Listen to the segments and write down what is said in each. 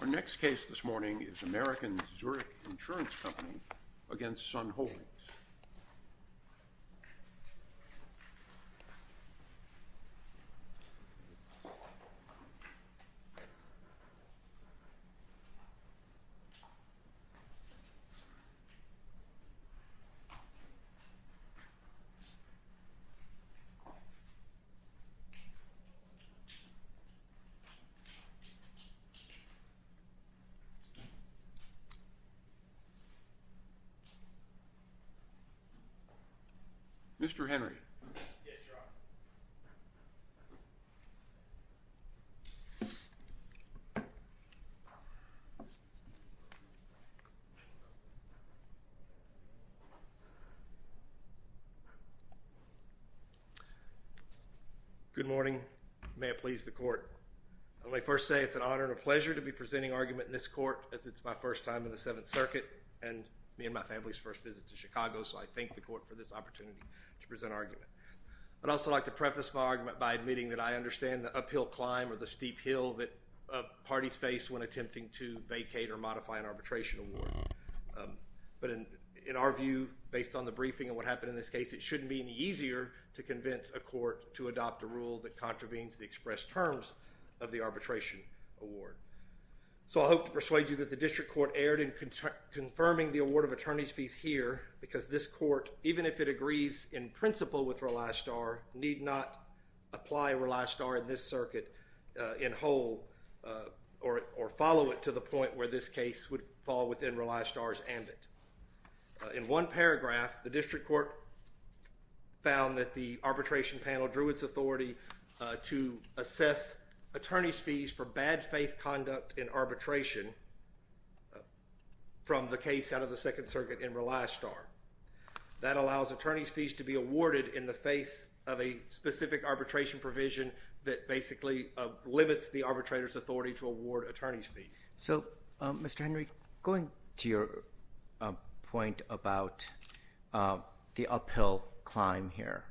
Our next case this morning is Americans Zurich Insurance Company v. Sun Holdings. Mr. Henry. Yes, Your Honor. Good morning. Good morning. May it please the Court. Let me first say it's an honor and a pleasure to be presenting argument in this court as it's my first time in the Seventh Circuit and me and my family's first visit to Chicago, so I thank the Court for this opportunity to present argument. I'd also like to preface my argument by admitting that I understand the uphill climb or the steep hill that parties face when attempting to vacate or modify an arbitration award. But in our view, based on the briefing and what happened in this case, it shouldn't be any easier to convince a court to adopt a rule that contravenes the expressed terms of the arbitration award. So I hope to persuade you that the District Court erred in confirming the award of attorney's fees here because this Court, even if it agrees in principle with Rely Star, need not apply Rely Star in this circuit in whole or follow it to the point where this case would fall within Rely Star's ambit. In one paragraph, the District Court found that the arbitration panel drew its authority to assess attorney's fees for bad faith conduct in arbitration from the case out of the Second Circuit in Rely Star. That allows attorney's fees to be awarded in the face of a specific arbitration provision that basically limits the arbitrator's authority to award attorney's fees. So Mr. Henry, going to your point about the uphill climb here,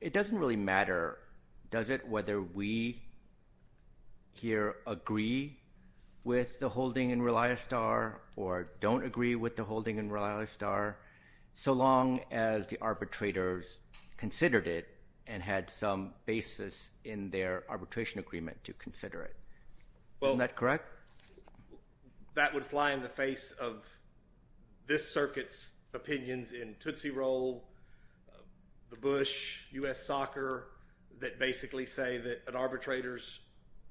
it doesn't really matter, does it, whether we here agree with the holding in Rely Star or don't agree with the holding in Rely Star, so long as the arbitrators considered it and had some basis in their arbitration agreement to consider it? Isn't that correct? Well, that would fly in the face of this circuit's opinions in Tootsie Roll, the Bush, U.S. Soccer that basically say that an arbitrator's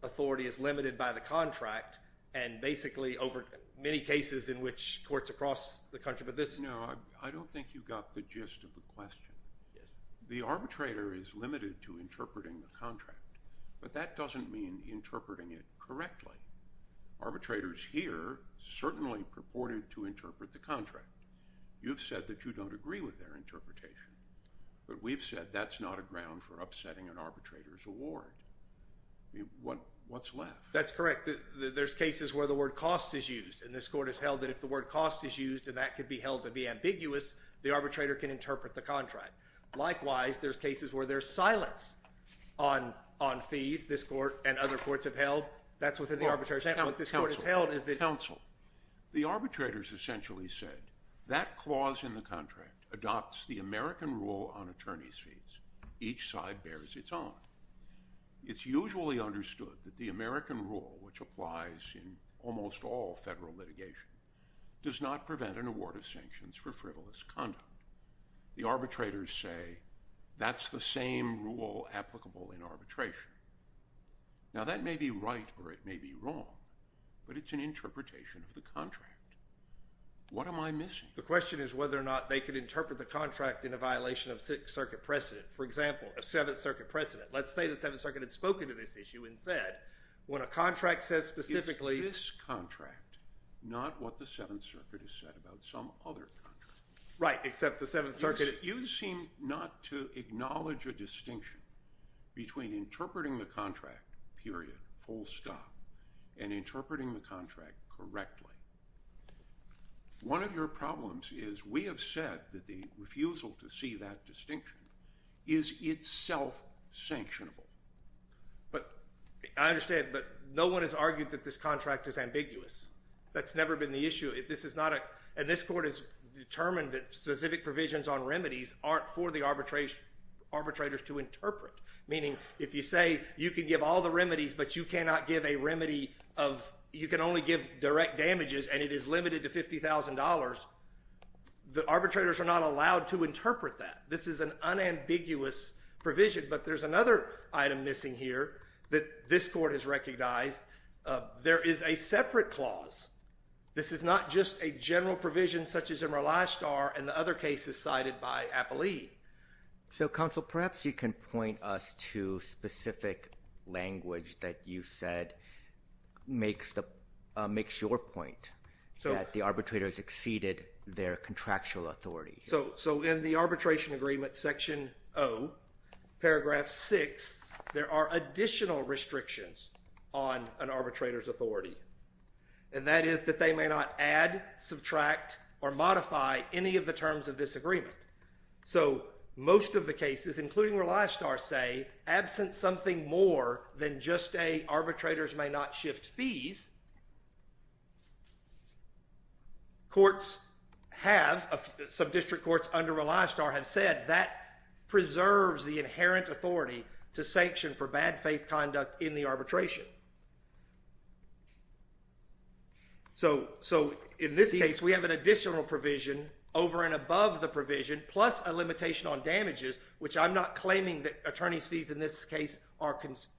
authority is limited by the contract and basically over many cases in which courts across the country, but this— No, I don't think you got the gist of the question. The arbitrator is limited to interpreting the contract, but that doesn't mean interpreting it correctly. Arbitrators here certainly purported to interpret the contract. You've said that you don't agree with their interpretation, but we've said that's not a ground for upsetting an arbitrator's award. What's left? That's correct. There's cases where the word cost is used, and this court has held that if the word cost is used and that could be held to be ambiguous, the arbitrator can interpret the contract. Likewise, there's cases where there's silence on fees this court and other courts have held. That's within the arbitration. What this court has held is that— Counsel, the arbitrators essentially said that clause in the contract adopts the American rule on attorney's fees. Each side bears its own. It's usually understood that the American rule, which applies in almost all federal litigation, does not prevent an award of sanctions for frivolous conduct. The arbitrators say that's the same rule applicable in arbitration. Now, that may be right or it may be wrong, but it's an interpretation of the contract. What am I missing? The question is whether or not they could interpret the contract in a violation of Sixth Circuit precedent. For example, a Seventh Circuit precedent. Let's say the Seventh Circuit had spoken to this issue and said, when a contract says specifically— It's this contract, not what the Seventh Circuit has said about some other contract. Right, except the Seventh Circuit— You seem not to acknowledge a distinction between interpreting the contract, period, full stop, and interpreting the contract correctly. One of your problems is we have said that the refusal to see that distinction is itself sanctionable. But, I understand, but no one has argued that this contract is ambiguous. That's never been the issue. This is not a— And this court has determined that specific provisions on remedies aren't for the arbitrators to interpret. Meaning, if you say you can give all the remedies, but you cannot give a remedy of— You can only give direct damages, and it is limited to $50,000, the arbitrators are not allowed to interpret that. This is an unambiguous provision. But there's another item missing here that this court has recognized. There is a separate clause. This is not just a general provision such as in Rolastar and the other cases cited by Appellee. So, counsel, perhaps you can point us to specific language that you said makes your point that the arbitrators exceeded their contractual authority. So in the arbitration agreement, section O, paragraph 6, there are additional restrictions on an arbitrator's authority. And that is that they may not add, subtract, or modify any of the terms of this agreement. So most of the cases, including Rolastar, say, absent something more than just a arbitrators may not shift fees, courts have— Some district courts under Rolastar have said that preserves the inherent authority to sanction for bad faith conduct in the arbitration. So in this case, we have an additional provision over and above the provision, plus a limitation on damages, which I'm not claiming that attorney's fees in this case are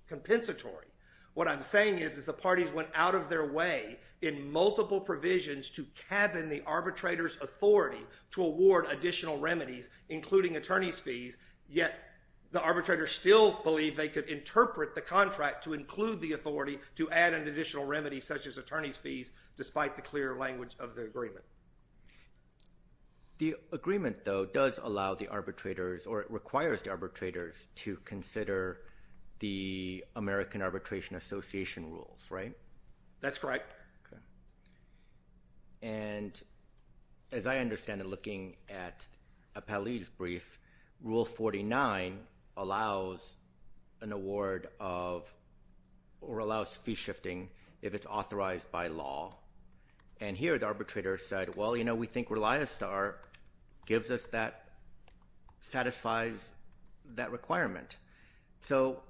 compensatory. What I'm saying is the parties went out of their way in multiple provisions to cabin the arbitrator's authority to award additional remedies, including attorney's fees, yet the district interpret the contract to include the authority to add an additional remedy such as attorney's fees, despite the clear language of the agreement. The agreement, though, does allow the arbitrators or it requires the arbitrators to consider the American Arbitration Association rules, right? That's correct. And as I understand it, looking at Appellee's brief, Rule 49 allows an award of—or allows fee shifting if it's authorized by law. And here, the arbitrator said, well, you know, we think Rolastar gives us that—satisfies that requirement. So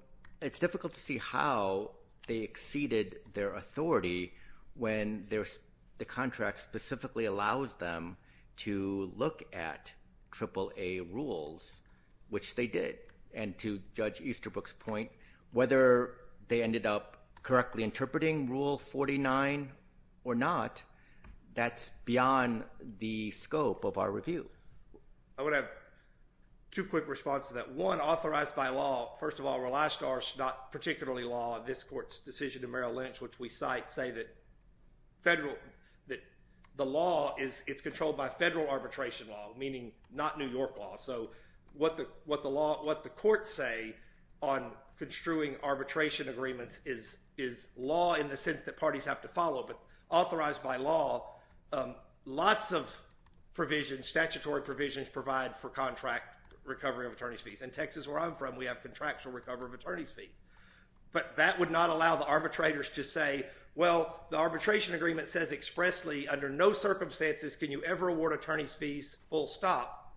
it's difficult to see how they exceeded their authority when the contract specifically allows them to look at AAA rules, which they did. And to Judge Easterbrook's point, whether they ended up correctly interpreting Rule 49 or not, that's beyond the scope of our review. I would have two quick responses to that. One, authorized by law, first of all, Rolastar is not particularly law. This court's decision in Merrill Lynch, which we cite, say that the law is—it's controlled by federal arbitration law, meaning not New York law. So what the courts say on construing arbitration agreements is law in the sense that parties have to follow. But authorized by law, lots of provisions, statutory provisions, provide for contract recovery of attorney's fees. In Texas, where I'm from, we have contractual recovery of attorney's fees. But that would not allow the arbitrators to say, well, the arbitration agreement says expressly under no circumstances can you ever award attorney's fees, full stop.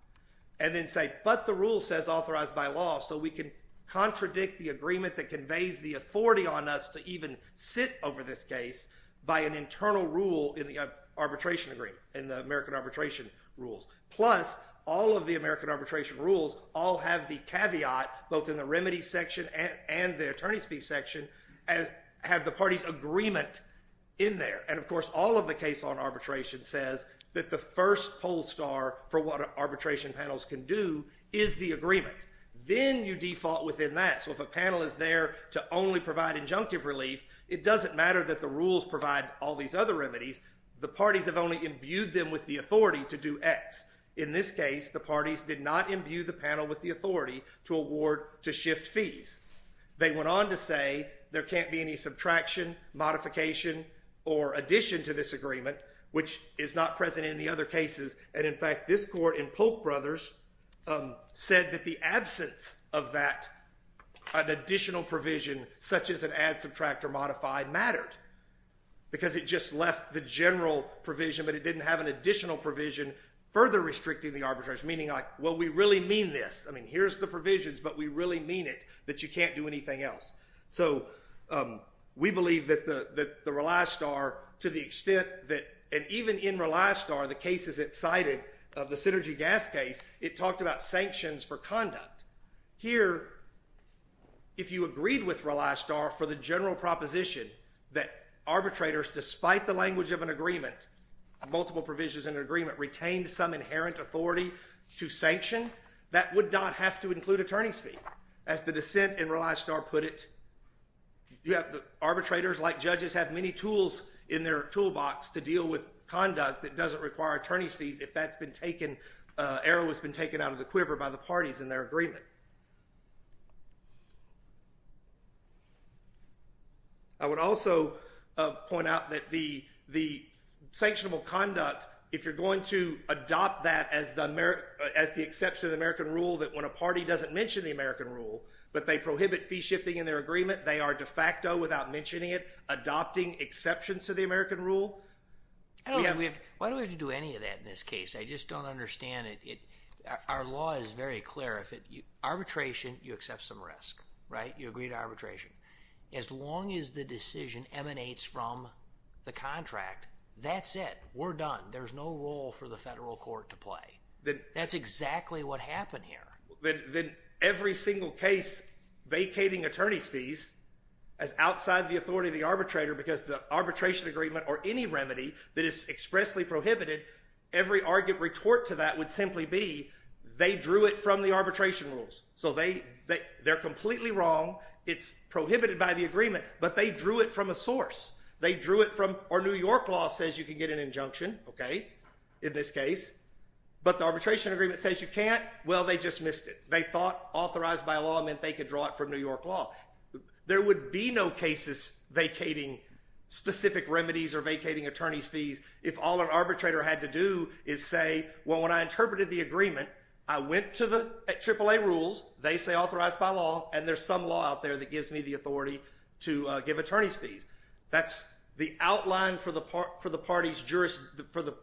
And then say, but the rule says authorized by law, so we can contradict the agreement that conveys the authority on us to even sit over this case by an internal rule in the arbitration agreement, in the American Arbitration Rules. Plus, all of the American Arbitration Rules all have the caveat, both in the remedy section and the attorney's fees section, have the party's agreement in there. And of course, all of the case on arbitration says that the first poll star for what arbitration panels can do is the agreement. Then you default within that. So if a panel is there to only provide injunctive relief, it doesn't matter that the rules provide all these other remedies. The parties have only imbued them with the authority to do X. In this case, the parties did not imbue the panel with the authority to award to shift fees. They went on to say there can't be any subtraction, modification, or addition to this agreement, which is not present in the other cases. And in fact, this court in Polk Brothers said that the absence of that additional provision, such as an add, subtract, or modify, mattered. Because it just left the general provision, but it didn't have an additional provision further restricting the arbitration, meaning like, well, we really mean this. I mean, here's the provisions, but we really mean it, that you can't do anything else. So we believe that the rely star, to the extent that, and even in rely star, the cases it cited of the Synergy Gas case, it talked about sanctions for conduct. Here, if you agreed with rely star for the general proposition that arbitrators, despite the language of an agreement, multiple provisions in an agreement, retained some inherent authority to sanction, that would not have to include attorney's fees. As the dissent in rely star put it, you have the arbitrators, like judges, have many tools in their toolbox to deal with conduct that doesn't require attorney's fees if that's been taken, error that's been taken out of the quiver by the parties in their agreement. I would also point out that the sanctionable conduct, if you're going to adopt that as the exception of the American rule, that when a party doesn't mention the American rule, but they prohibit fee shifting in their agreement, they are de facto, without mentioning it, adopting exceptions to the American rule. Why do we have to do any of that in this case? I just don't understand it. Our law is very clear. Arbitration, you accept some risk, right? You agree to arbitration. As long as the decision emanates from the contract, that's it. We're done. There's no role for the federal court to play. That's exactly what happened here. Then every single case vacating attorney's fees as outside the authority of the arbitrator because the arbitration agreement or any remedy that is expressly prohibited, every argument retort to that would simply be they drew it from the arbitration rules. They're completely wrong. It's prohibited by the agreement, but they drew it from a source. They drew it from, or New York law says you can get an injunction, okay, in this case, but the arbitration agreement says you can't. Well, they just missed it. They thought authorized by law meant they could draw it from New York law. There would be no cases vacating specific remedies or vacating attorney's fees if all an arbitrator had to do is say, well, when I interpreted the agreement, I went to the AAA rules. They say authorized by law, and there's some law out there that gives me the authority to give attorney's fees. That's the outline for the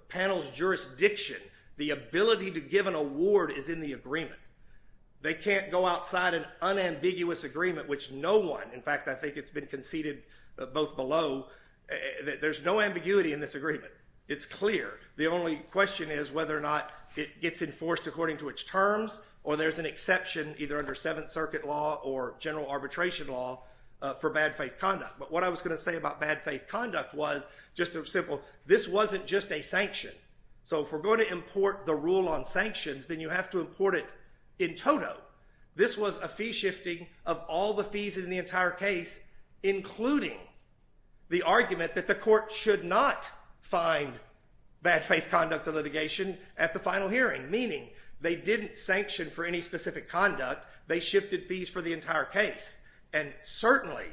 panel's jurisdiction. The ability to give an award is in the agreement. They can't go outside an unambiguous agreement, which no one, in fact, I think it's been conceded both below, there's no ambiguity in this agreement. It's clear. The only question is whether or not it gets enforced according to its terms or there's an exception either under Seventh Circuit law or general arbitration law for bad faith conduct. But what I was going to say about bad faith conduct was just a simple, this wasn't just a sanction. So if we're going to import the rule on sanctions, then you have to import it in total. This was a fee shifting of all the fees in the entire case, including the argument that the court should not find bad faith conduct of litigation at the final hearing, meaning they didn't sanction for any specific conduct. They shifted fees for the entire case. And certainly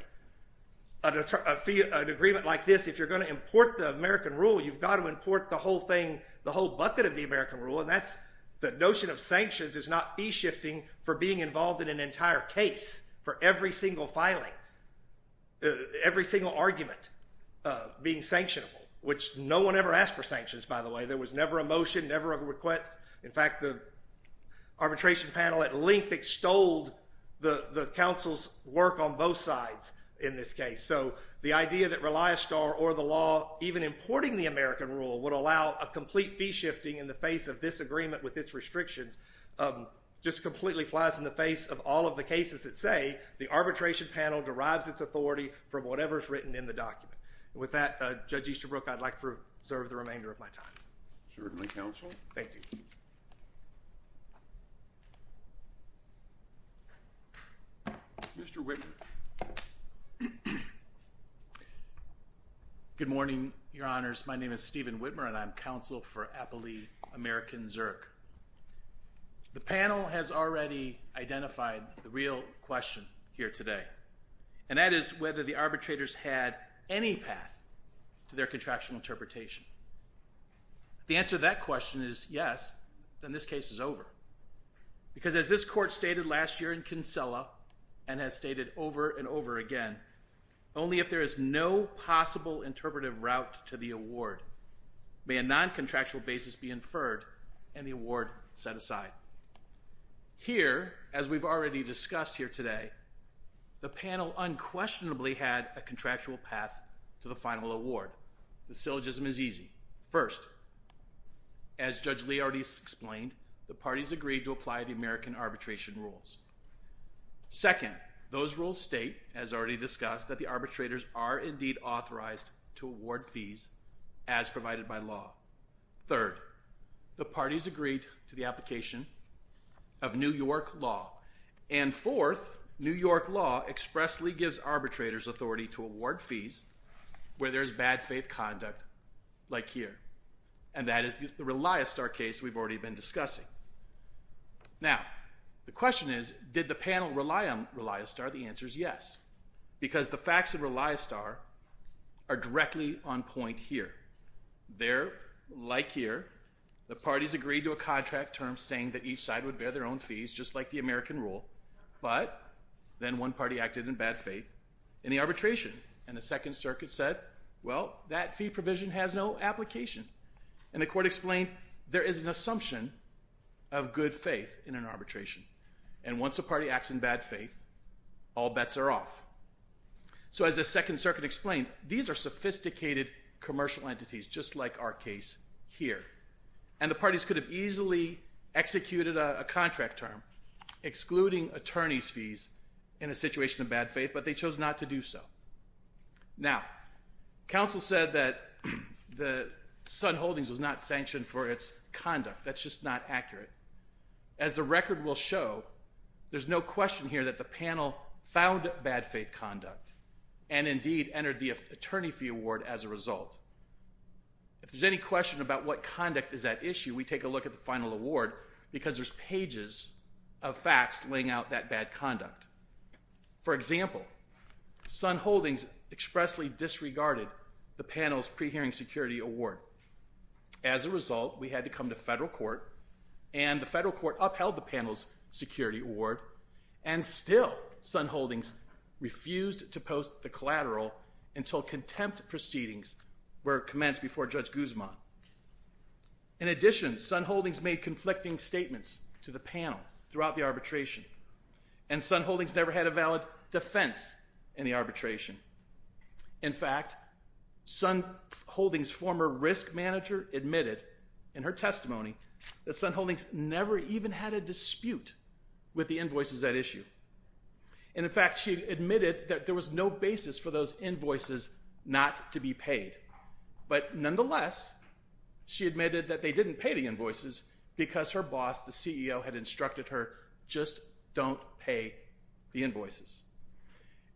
an agreement like this, if you're going to import the American rule, you've got to import the whole thing, the whole bucket of the American rule, and that's the notion of sanctions is not fee shifting for being involved in an entire case for every single filing, every single argument being sanctionable, which no one ever asked for sanctions by the way. There was never a motion, never a request. In fact, the arbitration panel at length extolled the counsel's work on both sides in this case. So the idea that Reliastar or the law even importing the American rule would allow a complete fee shifting in the face of this agreement with its restrictions just completely flies in the face of all of the cases that say the arbitration panel derives its authority from whatever's written in the document. With that, Judge Easterbrook, I'd like to serve the remainder of my time. Certainly, counsel. Thank you. Mr. Whitmer. Good morning, your honors. My name is Stephen Whitmer and I'm counsel for Appellee American Zerk. The panel has already identified the real question here today, and that is whether the arbitrators had any path to their contractual interpretation. If the answer to that question is yes, then this case is over. Because as this court stated last year in Kinsella and has stated over and over again, only if there is no possible interpretive route to the award may a non-contractual basis be inferred and the award set aside. Here, as we've already discussed here today, the panel unquestionably had a contractual path to the final award. The syllogism is easy. First, as Judge Lee already explained, the parties agreed to apply the American arbitration rules. Second, those rules state, as already discussed, that the arbitrators are indeed authorized to award fees as provided by law. Third, the parties agreed to the application of New York law. And fourth, New York law expressly gives arbitrators authority to award fees where there's bad faith conduct, like here. And that is the Reliastar case we've already been discussing. Now, the question is, did the panel rely on Reliastar? The answer is yes. Because the facts of Reliastar are directly on point here. They're, like here, the parties agreed to a contract term saying that each side would bear their own fees, just like the American rule, but then one party acted in bad faith in the arbitration. And the Second Circuit said, well, that fee provision has no application. And the court explained, there is an assumption of good faith in an arbitration. And once a party acts in bad faith, all bets are off. So as the Second Circuit explained, these are sophisticated commercial entities, just like our case here. And the parties could have easily executed a contract term excluding attorney's fees in a situation of bad faith, but they chose not to do so. Now, counsel said that the Sun Holdings was not sanctioned for its conduct. That's just not accurate. As the record will show, there's no question here that the panel found bad faith conduct and indeed entered the attorney fee award as a result. If there's any question about what conduct is at issue, we take a look at the final award because there's pages of facts laying out that bad conduct. For example, Sun Holdings expressly disregarded the panel's pre-hearing security award. As a result, we had to come to federal court, and the federal court upheld the panel's security award, and still Sun Holdings refused to post the collateral until contempt proceedings were commenced before Judge Guzman. In addition, Sun Holdings made conflicting statements to the panel throughout the arbitration, and Sun Holdings never had a valid defense in the arbitration. In fact, Sun Holdings' former risk manager admitted in her testimony that Sun Holdings never even had a dispute with the invoices at issue. And in fact, she admitted that there was no basis for those invoices not to be paid. But nonetheless, she admitted that they didn't pay the invoices because her boss, the CEO, had instructed her, just don't pay the invoices.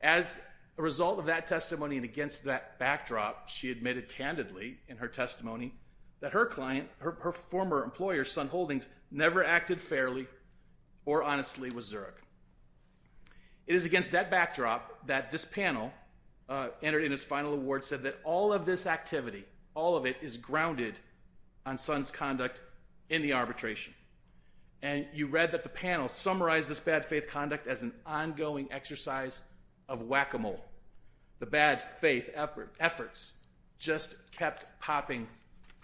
As a result of that testimony and against that backdrop, she admitted candidly in her testimony that her client, her former employer, Sun Holdings, never acted fairly or honestly with Zurich. It is against that backdrop that this panel entered in its final award, said that all of this activity, all of it is grounded on Sun's conduct in the arbitration. And you read that the panel summarized this bad faith conduct as an ongoing exercise of whack-a-mole. The bad faith efforts just kept popping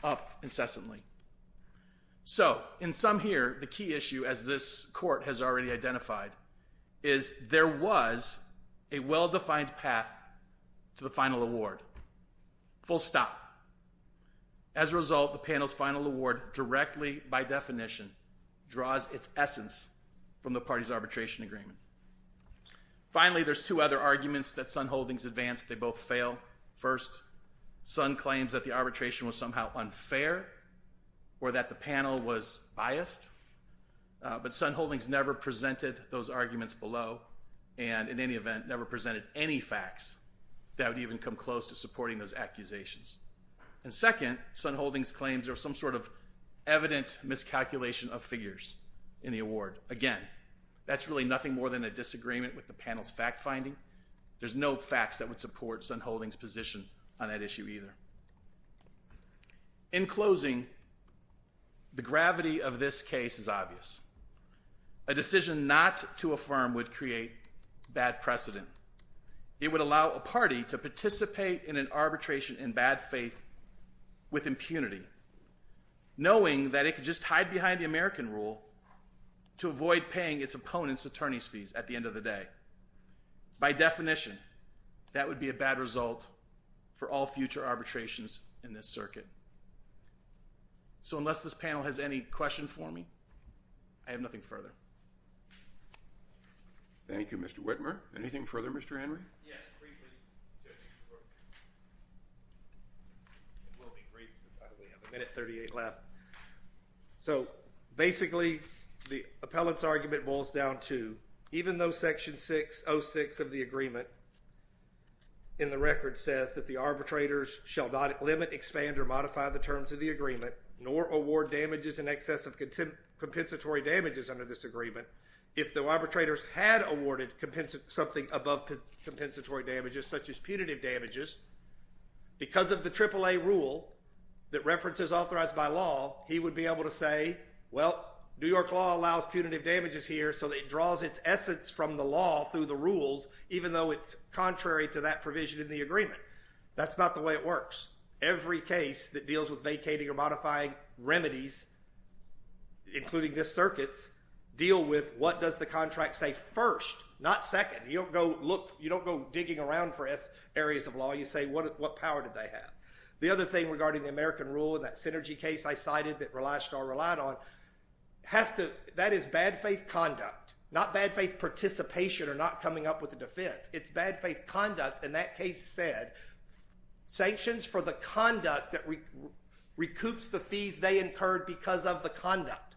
up incessantly. So, in sum here, the key issue, as this court has already identified, is there was a well-defined path to the final award, full stop. As a result, the panel's final award directly by definition draws its essence from the party's arbitration agreement. Finally, there's two other arguments that Sun Holdings advanced. They both fail. First, Sun claims that the arbitration was somehow unfair or that the panel was biased. But Sun Holdings never presented those arguments below and, in any event, never presented any facts that would even come close to supporting those accusations. And second, Sun Holdings claims there was some sort of evident miscalculation of figures in the award. Again, that's really nothing more than a disagreement with the panel's fact finding. There's no facts that would support Sun Holdings' position on that issue either. In closing, the gravity of this case is obvious. A decision not to affirm would create bad precedent. It would allow a party to participate in an arbitration in bad faith with impunity, knowing that it could just hide behind the American rule to avoid paying its opponent's attorney's fees at the end of the day. By definition, that would be a bad result for all future arbitrations in this circuit. So unless this panel has any questions for me, I have nothing further. Thank you, Mr. Whitmer. Anything further, Mr. Henry? Yes, briefly, Judge Easterbrook. It will be brief since I only have a minute 38 left. So basically, the appellant's argument boils down to, even though Section 606 of the agreement in the record says that the arbitrators shall not limit, expand, or modify the terms of the agreement, nor award damages in excess of compensatory damages under this agreement, if the arbitrators had awarded something above compensatory damages, such as punitive damages, because of the AAA rule that references authorized by law, he would be able to say, well, New York law allows punitive damages here, so it draws its essence from the law through the rules, even though it's contrary to that provision in the agreement. That's not the way it works. Every case that deals with vacating or modifying remedies, including this circuit's, deal with what does the contract say first, not second. You don't go digging around for areas of law. You say, what power do they have? The other thing regarding the American rule and that synergy case I cited that Reli star relied on, that is bad faith conduct, not bad faith participation or not coming up with a defense. It's bad faith conduct, and that case said, sanctions for the conduct that recoups the fees they incurred because of the conduct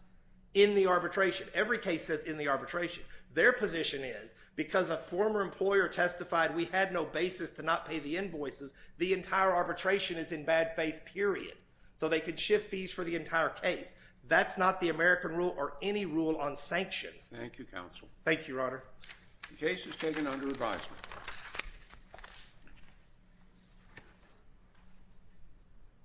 in the arbitration. Every case says in the arbitration. Their position is, because a former employer testified we had no basis to not pay the invoices, the entire arbitration is in bad faith, period. So they could shift fees for the entire case. That's not the American rule or any rule on sanctions. Thank you, counsel. Thank you, your honor. The case is taken under advisement.